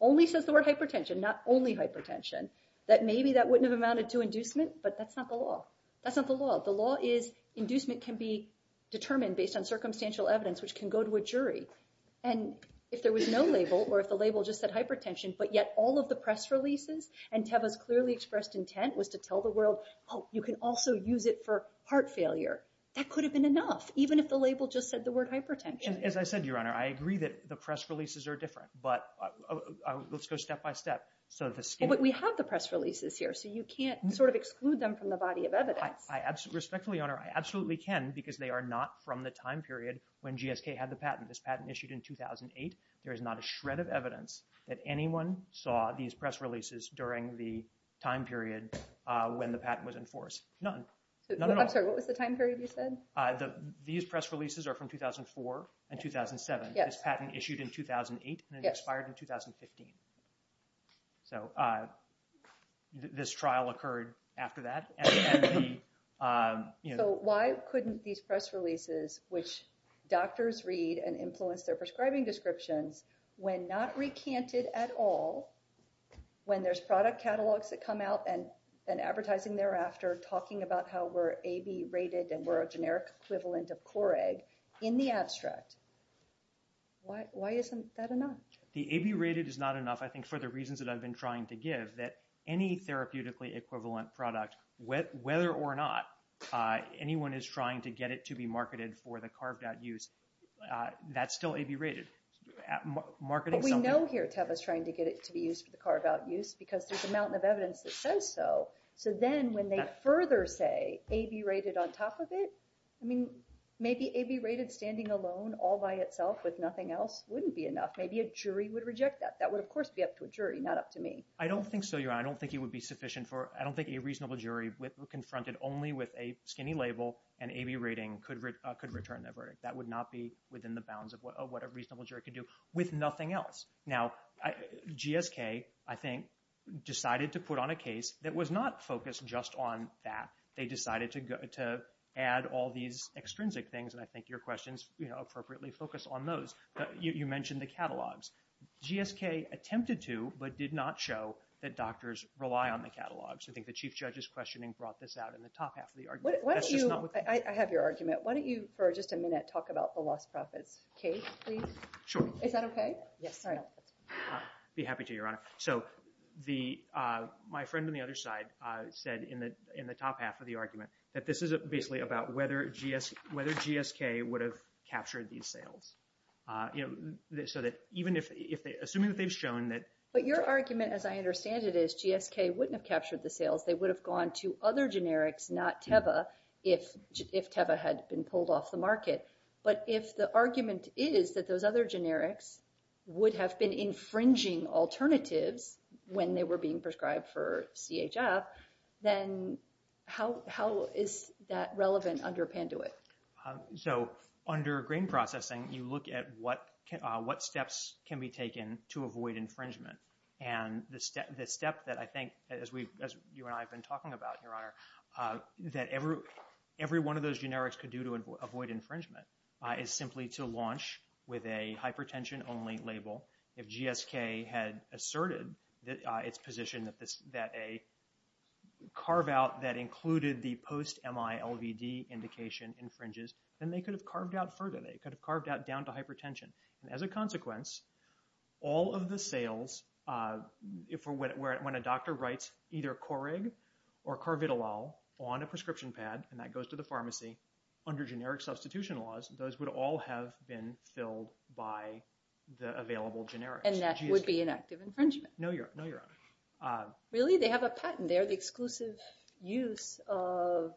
only says the word hypertension, not only hypertension, that maybe that wouldn't have amounted to inducement, but that's not the law. That's not the law. The law is inducement can be determined based on circumstantial evidence, which can go to a jury. And if there was no label, or if the label just said hypertension, but yet all of the press releases and Teva's clearly expressed intent was to tell the world, oh, you can also use it for heart failure. That could have been enough, even if the label just said the word hypertension. As I said, Your Honor, I agree that the press releases are different, but let's go step-by-step. So the scheme- But we have the press releases here, so you can't sort of exclude them from the body of evidence. Respectfully, Your Honor, I absolutely can because they are not from the time period when GSK had the patent. This patent issued in 2008. There is not a shred of evidence that anyone saw these press releases during the time period when the patent was enforced. None. None at all. I'm sorry, what was the time period you said? These press releases are from 2004 and 2007. This patent issued in 2008 and then expired in 2015. So this trial occurred after that. So why couldn't these press releases, which doctors read and influence their prescribing descriptions, when not recanted at all, when there's product catalogs that come out and advertising thereafter talking about how we're AB rated and we're a generic equivalent of Core-A in the abstract, why isn't that enough? The AB rated is not enough, I think, for the reasons that I've been trying to give, that any therapeutically equivalent product, whether or not anyone is trying to get it to be marketed for the carved out use, that's still AB rated. Marketing something- But we know here Teva's trying to get it to be used for the carved out use because there's a mountain of evidence that says so. So then when they further say AB rated on top of it, I mean, maybe AB rated standing alone all by itself with nothing else wouldn't be enough. Maybe a jury would reject that. That would, of course, be up to a jury, not up to me. I don't think so, Your Honor. I don't think it would be sufficient for, I don't think a reasonable jury confronted only with a skinny label and AB rating could return that verdict. That would not be within the bounds of what a reasonable jury could do with nothing else. Now, GSK, I think, decided to put on a case that was not focused just on that. They decided to add all these extrinsic things, and I think your questions appropriately focus on those. You mentioned the catalogs. GSK attempted to, but did not show, that doctors rely on the catalogs. I think the Chief Judge's questioning brought this out in the top half of the argument. That's just not what- I have your argument. Why don't you, for just a minute, talk about the Lost Prophets case, please? Sure. Is that okay? Yes. Be happy to, Your Honor. So my friend on the other side said in the top half of the argument that this is basically about whether GSK would have captured these sales. So that even if, assuming that they've shown that- But your argument, as I understand it, is GSK wouldn't have captured the sales. They would have gone to other generics, not Teva, if Teva had been pulled off the market. But if the argument is that those other generics would have been infringing alternatives when they were being prescribed for CHF, then how is that relevant under Panduit? So under grain processing, you look at what steps can be taken to avoid infringement. And the step that I think, as you and I have been talking about, Your Honor, that every one of those generics could do to avoid infringement is simply to launch with a hypertension-only label if GSK had asserted its position that a carve-out that included the post-MILVD indication infringes, then they could have carved out further. They could have carved out down to hypertension. And as a consequence, all of the sales, when a doctor writes either Corig or Carvitolol on a prescription pad, and that goes to the pharmacy, under generic substitution laws, those would all have been filled by the available generics. And that would be an act of infringement. No, Your Honor. Really, they have a patent. They're the exclusive use of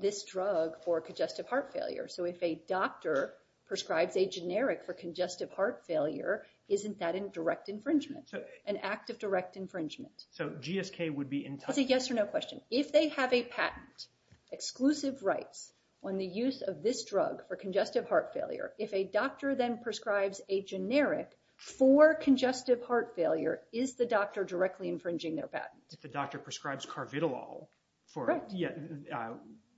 this drug for congestive heart failure. So if a doctor prescribes a generic for congestive heart failure, isn't that a direct infringement, an act of direct infringement? So GSK would be entitled- That's a yes or no question. If they have a patent, exclusive rights, on the use of this drug for congestive heart failure, if a doctor then prescribes a generic for congestive heart failure, is the doctor directly infringing their patent? If the doctor prescribes Carvitolol for- Correct.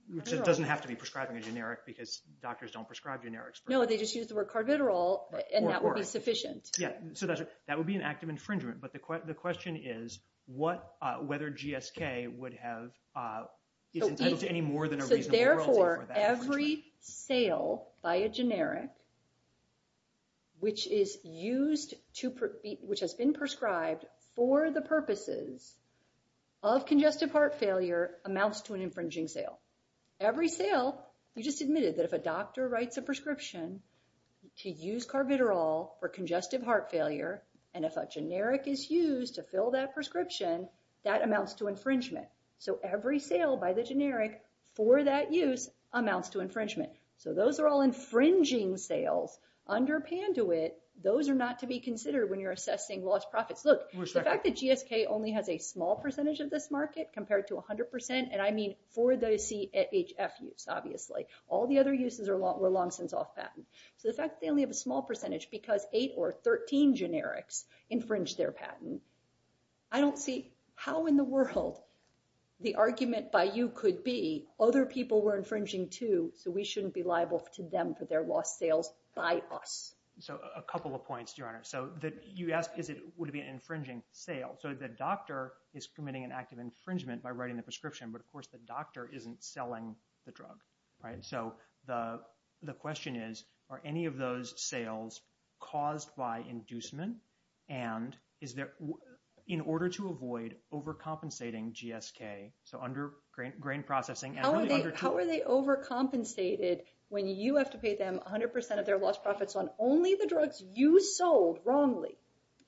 Which it doesn't have to be prescribing a generic because doctors don't prescribe generics for- No, they just use the word Carvitolol, and that would be sufficient. Yeah, so that would be an act of infringement. But the question is whether GSK would have, is entitled to any more than a reasonable royalty for that. So therefore, every sale by a generic, which has been prescribed for the purposes of congestive heart failure amounts to an infringing sale. Every sale, you just admitted that if a doctor writes a prescription to use Carvitolol for congestive heart failure, and if a generic is used to fill that prescription, that amounts to infringement. So every sale by the generic for that use amounts to infringement. So those are all infringing sales. Under Panduit, those are not to be considered when you're assessing lost profits. Look, the fact that GSK only has a small percentage of this market compared to 100%, and I mean for the CHF use, obviously. All the other uses were long since off patent. So the fact that they only have a small percentage because eight or 13 generics infringed their patent, I don't see how in the world the argument by you could be, other people were infringing too, so we shouldn't be liable to them for their lost sales by us. So a couple of points, Your Honor. So you asked, would it be an infringing sale? So the doctor is committing an act of infringement by writing the prescription, but of course the doctor isn't selling the drug, right? So the question is, are any of those sales caused by inducement? And in order to avoid overcompensating GSK, so under grain processing, How are they overcompensated when you have to pay them 100% of their lost profits on only the drugs you sold wrongly?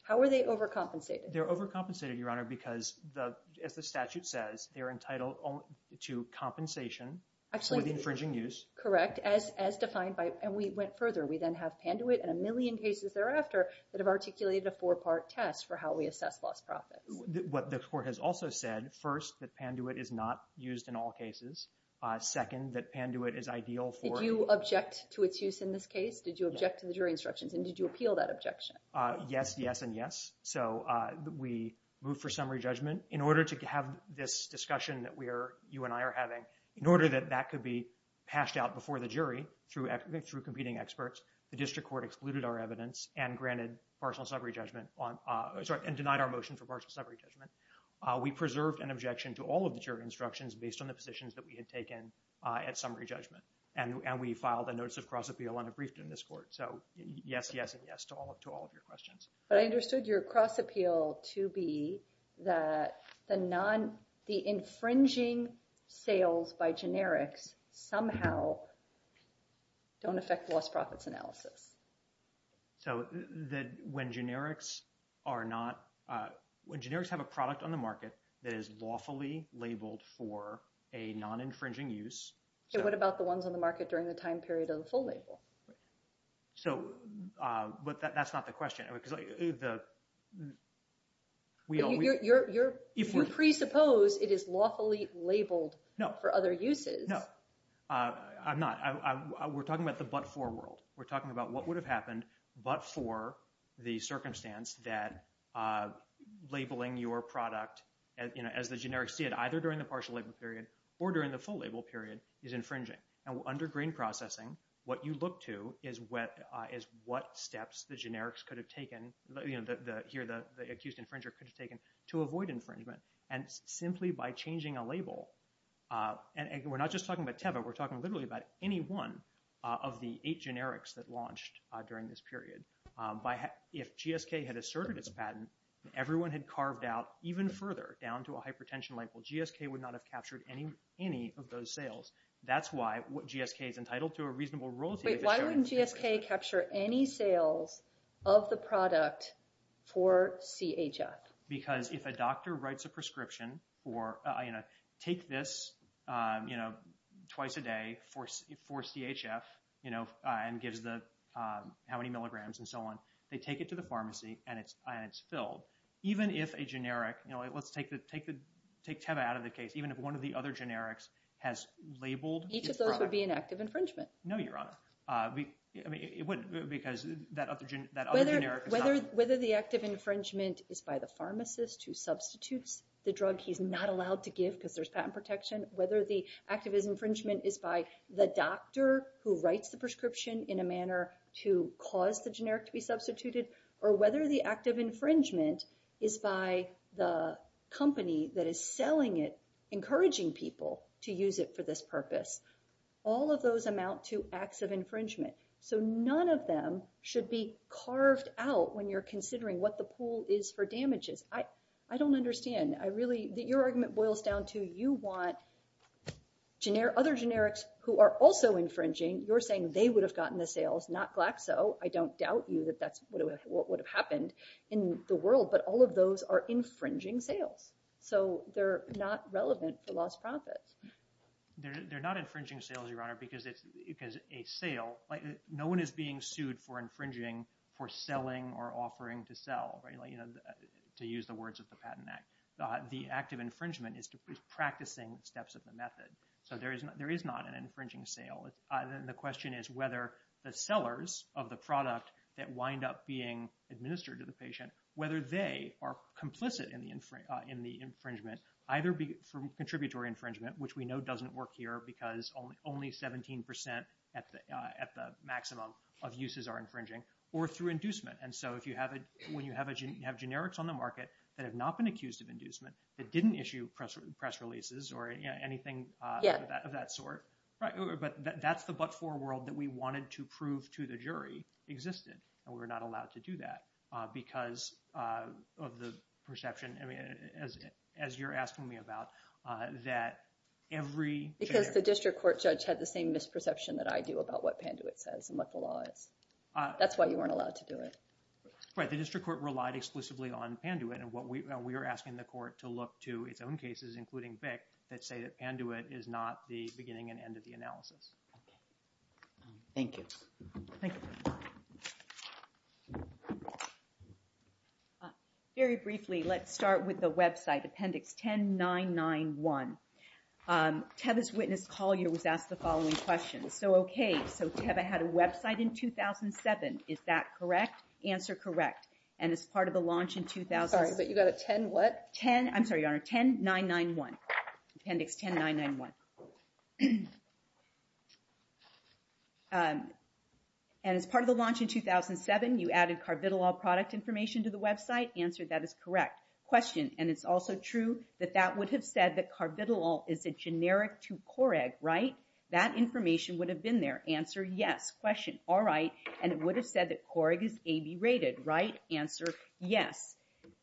How are they overcompensated? They're overcompensated, Your Honor, because as the statute says, they're entitled to compensation for the infringing use. Correct, as defined by, and we went further. We then have Panduit and a million cases thereafter that have articulated a four-part test for how we assess lost profits. What the court has also said, first, that Panduit is not used in all cases. Second, that Panduit is ideal for- Did you object to its use in this case? Did you object to the jury instructions? And did you appeal that objection? Yes, yes, and yes. So we moved for summary judgment. In order to have this discussion that you and I are having, in order that that could be passed out before the jury through competing experts, the district court excluded our evidence and granted partial summary judgment, sorry, and denied our motion for partial summary judgment. We preserved an objection to all of the jury instructions based on the positions that we had taken at summary judgment. And we filed a notice of cross-appeal on a brief in this court. So yes, yes, and yes to all of your questions. I understood your cross-appeal to be that the infringing sales by generics somehow don't affect lost profits analysis. So that when generics are not, when generics have a product on the market that is lawfully labeled for a non-infringing use. And what about the ones on the market during the time period of the full label? So, but that's not the question. Because the, we always- You presuppose it is lawfully labeled for other uses. No, I'm not. We're talking about the but-for world. We're talking about what would have happened but-for the circumstance that labeling your product as the generics did, either during the partial label period or during the full label period is infringing. And under green processing, what you look to is what steps the generics could have taken the here, the accused infringer could have taken to avoid infringement. And simply by changing a label. And we're not just talking about Teva. We're talking literally about any one of the eight generics that launched during this period. If GSK had asserted its patent, everyone had carved out even further down to a hypertension label. GSK would not have captured any of those sales. That's why GSK is entitled to a reasonable royalty- Wait, why wouldn't GSK capture any sales of the product for CHF? Because if a doctor writes a prescription or take this twice a day for CHF, you know, and gives the how many milligrams and so on, they take it to the pharmacy and it's filled. Even if a generic, you know, let's take Teva out of the case. Even if one of the other generics has labeled- Each of those would be an active infringement. No, Your Honor. Because that other generic is not- Whether the active infringement is by the pharmacist who substitutes the drug he's not allowed to give because there's patent protection, whether the active infringement is by the doctor who writes the prescription in a manner to cause the generic to be substituted, or whether the active infringement is by the company that is selling it, encouraging people to use it for this purpose. All of those amount to acts of infringement. So none of them should be carved out when you're considering what the pool is for damages. I don't understand. I really- Your argument boils down to you want other generics who are also infringing. You're saying they would have gotten the sales, not Glaxo. I don't doubt you that that's what would have happened in the world, but all of those are infringing sales. So they're not relevant for lost profits. They're not infringing sales, Your Honor, because a sale- No one is being sued for infringing for selling or offering to sell, right? To use the words of the Patent Act. The act of infringement is practicing steps of the method. So there is not an infringing sale. The question is whether the sellers of the product that wind up being administered to the patient, whether they are complicit in the infringement, either from contributory infringement, which we know doesn't work here because only 17% at the maximum of uses are infringing, or through inducement. And so when you have generics on the market that have not been accused of inducement, that didn't issue press releases or anything of that sort, but that's the but-for world that we wanted to prove to the jury existed, and we were not allowed to do that because of the perception, as you're asking me about, that every- Because the district court judge had the same misperception that I do about what Panduit says and what the law is. That's why you weren't allowed to do it. Right, the district court relied exclusively on Panduit, and we are asking the court to look to its own cases, including BIC, that say that Panduit is not the beginning and end of the analysis. Thank you. Thank you. Very briefly, let's start with the website, Appendix 10991. Teva's witness, Collier, was asked the following question. So okay, so Teva had a website in 2007, is that correct? Answer, correct. And as part of the launch in 2000- Sorry, but you got a 10 what? 10, I'm sorry, Your Honor, 10991, Appendix 10991. And as part of the launch in 2007, you added Carbidolol product information to the website. Answer, that is correct. Question, and it's also true that that would have said that Carbidolol is a generic to Coreg, right? That information would have been there. Answer, yes. Question, all right, and it would have said that Coreg is AB rated, right? Answer, yes.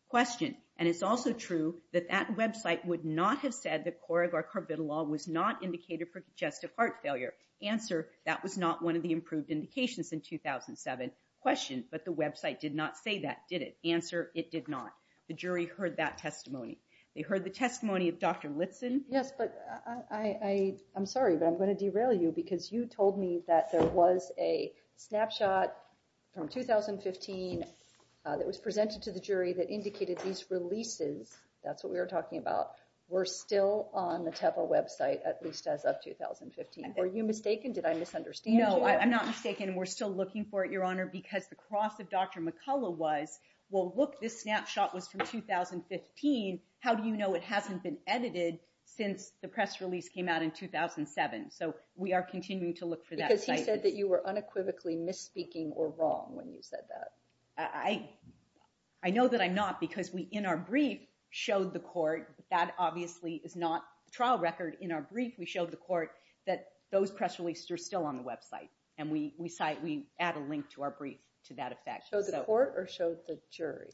Question, and it's also true that that website would not have said that Coreg or Carbidolol was not indicated for congestive heart failure. Answer, that was not one of the improved indications in 2007. Question, but the website did not say that, did it? Answer, it did not. The jury heard that testimony. They heard the testimony of Dr. Litson. Yes, but I'm sorry, but I'm gonna derail you because you told me that there was a snapshot from 2015 that was presented to the jury that indicated these releases, that's what we were talking about, were still on the TEPA website, at least as of 2015. Were you mistaken? Did I misunderstand you? No, I'm not mistaken. We're still looking for it, Your Honor, because the cross of Dr. McCullough was, well, look, this snapshot was from 2015. How do you know it hasn't been edited since the press release came out in 2007? So we are continuing to look for that site. Because he said that you were unequivocally misspeaking or wrong when you said that. I know that I'm not because we, in our brief, showed the court, that obviously is not trial record. In our brief, we showed the court that those press releases are still on the website. And we add a link to our brief to that effect. Showed the court or showed the jury?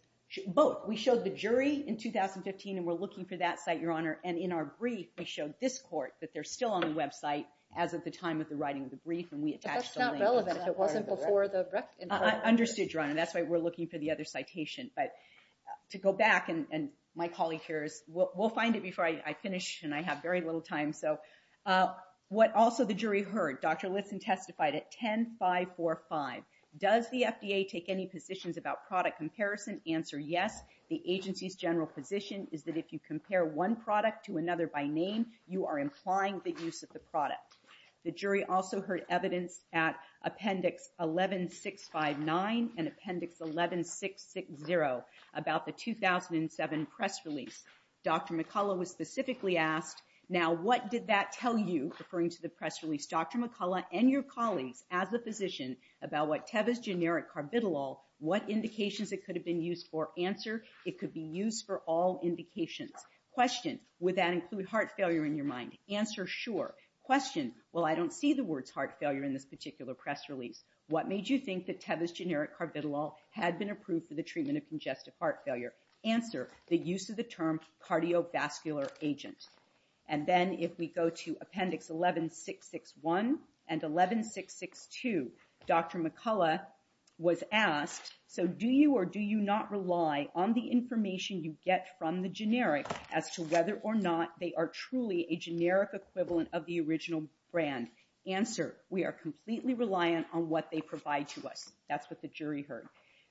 Both, we showed the jury in 2015 and we're looking for that site, Your Honor. And in our brief, we showed this court that they're still on the website as of the time of the writing of the brief and we attached a link. But that's not relevant if it wasn't before the record. I understood, Your Honor. That's why we're looking for the other citation. But to go back, and my colleague here is, we'll find it before I finish and I have very little time. So what also the jury heard, Dr. Litson testified at 10.545. Does the FDA take any positions about product comparison? Answer, yes. The agency's general position is that if you compare one product to another by name, you are implying the use of the product. The jury also heard evidence at Appendix 11659 and Appendix 11660 about the 2007 press release. Dr. McCullough was specifically asked, now what did that tell you, referring to the press release, Dr. McCullough and your colleagues as a physician about what Teva's generic carbidolol, what indications it could have been used for? Answer, it could be used for all indications. Question, would that include heart failure in your mind? Answer, sure. Question, well I don't see the words heart failure in this particular press release. What made you think that Teva's generic carbidolol had been approved for the treatment of congestive heart failure? Answer, the use of the term cardiovascular agent. And then if we go to Appendix 11661 and 11662, Dr. McCullough was asked, so do you or do you not rely on the information you get from the generic as to whether or not they are truly a generic equivalent of the original brand? Answer, we are completely reliant on what they provide to us. That's what the jury heard.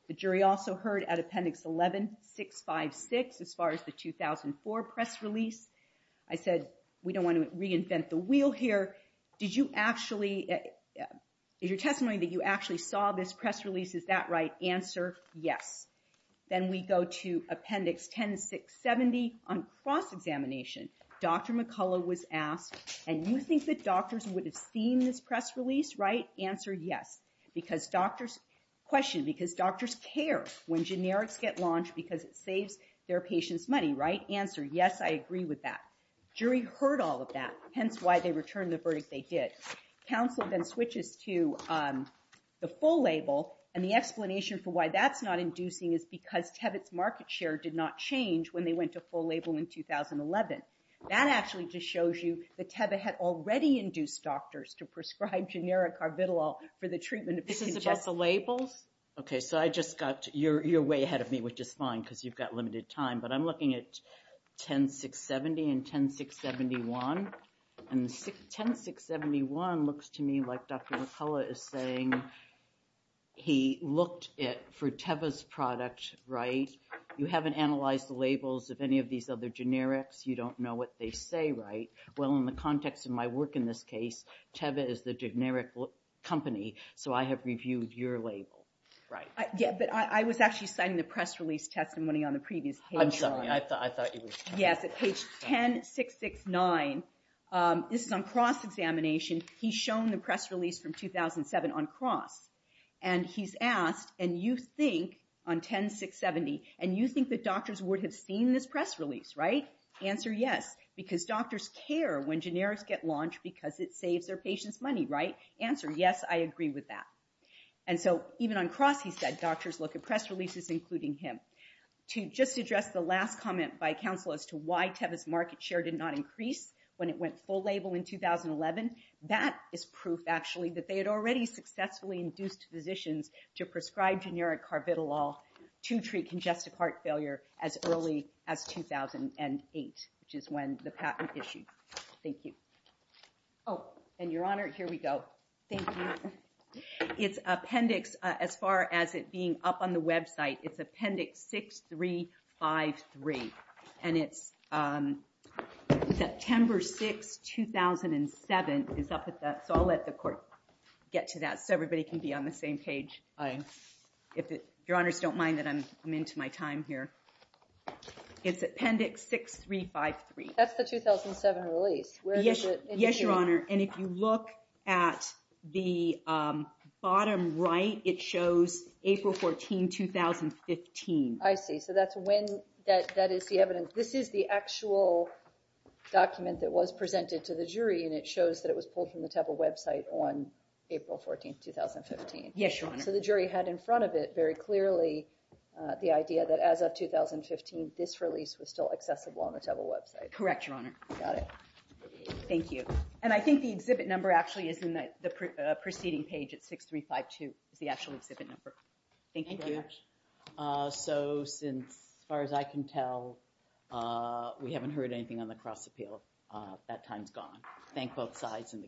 The jury also heard at Appendix 11656 as far as the 2004 press release. I said, we don't want to reinvent the wheel here. Did you actually, is your testimony that you actually saw this press release, is that right? Answer, yes. Then we go to Appendix 10670 on cross-examination. Dr. McCullough was asked, and you think that doctors would have seen this press release, right? Answer, yes. Because doctors, question, because doctors care when generics get launched because it saves their patients money, right? Answer, yes, I agree with that. Jury heard all of that, hence why they returned the verdict they did. Counsel then switches to the full label and the explanation for why that's not inducing is because Tebbit's market share did not change when they went to full label in 2011. That actually just shows you that Tebbit had already induced doctors to prescribe generic carbidolol for the treatment of congestion. This is about the labels? Okay, so I just got, you're way ahead of me, which is fine because you've got limited time, but I'm looking at 10670 and 10671. And 10671 looks to me like Dr. McCullough is saying he looked at, for Teva's product, right? You haven't analyzed the labels of any of these other generics. You don't know what they say, right? Well, in the context of my work in this case, Teva is the generic company, so I have reviewed your label, right? Yeah, but I was actually signing the press release test and winning on the previous page. I'm sorry, I thought you were signing. Yes, at page 10669. This is on cross-examination. He's shown the press release from 2007 on cross. And he's asked, and you think, on 10670, and you think that doctors would have seen this press release, right? Answer, yes, because doctors care when generics get launched because it saves their patients money, right? Answer, yes, I agree with that. And so, even on cross, he said doctors look at press releases including him. To just address the last comment by counsel as to why Teva's market share did not increase when it went full label in 2011, that is proof, actually, that they had already successfully induced physicians to prescribe generic carbidolol to treat congestive heart failure as early as 2008, which is when the patent issued. Thank you. Oh, and Your Honor, here we go. Thank you. It's appendix, as far as it being up on the website, it's appendix 6353. And it's September 6, 2007, it's up at that, so I'll let the court get to that so everybody can be on the same page. Your Honors, don't mind that I'm into my time here. It's appendix 6353. That's the 2007 release. Yes, Your Honor, and if you look at the bottom right, it shows April 14, 2015. I see, so that's when, that is the evidence, this is the actual document that was presented to the jury and it shows that it was pulled from the Teva website on April 14, 2015. Yes, Your Honor. So the jury had in front of it very clearly the idea that as of 2015, this release was still accessible on the Teva website. Correct, Your Honor. Got it. Thank you. And I think the exhibit number actually is in the preceding page, it's 6352, is the actual exhibit number. Thank you very much. So since, as far as I can tell, we haven't heard anything on the cross-appeal, that time's gone. Thank both sides and the cases.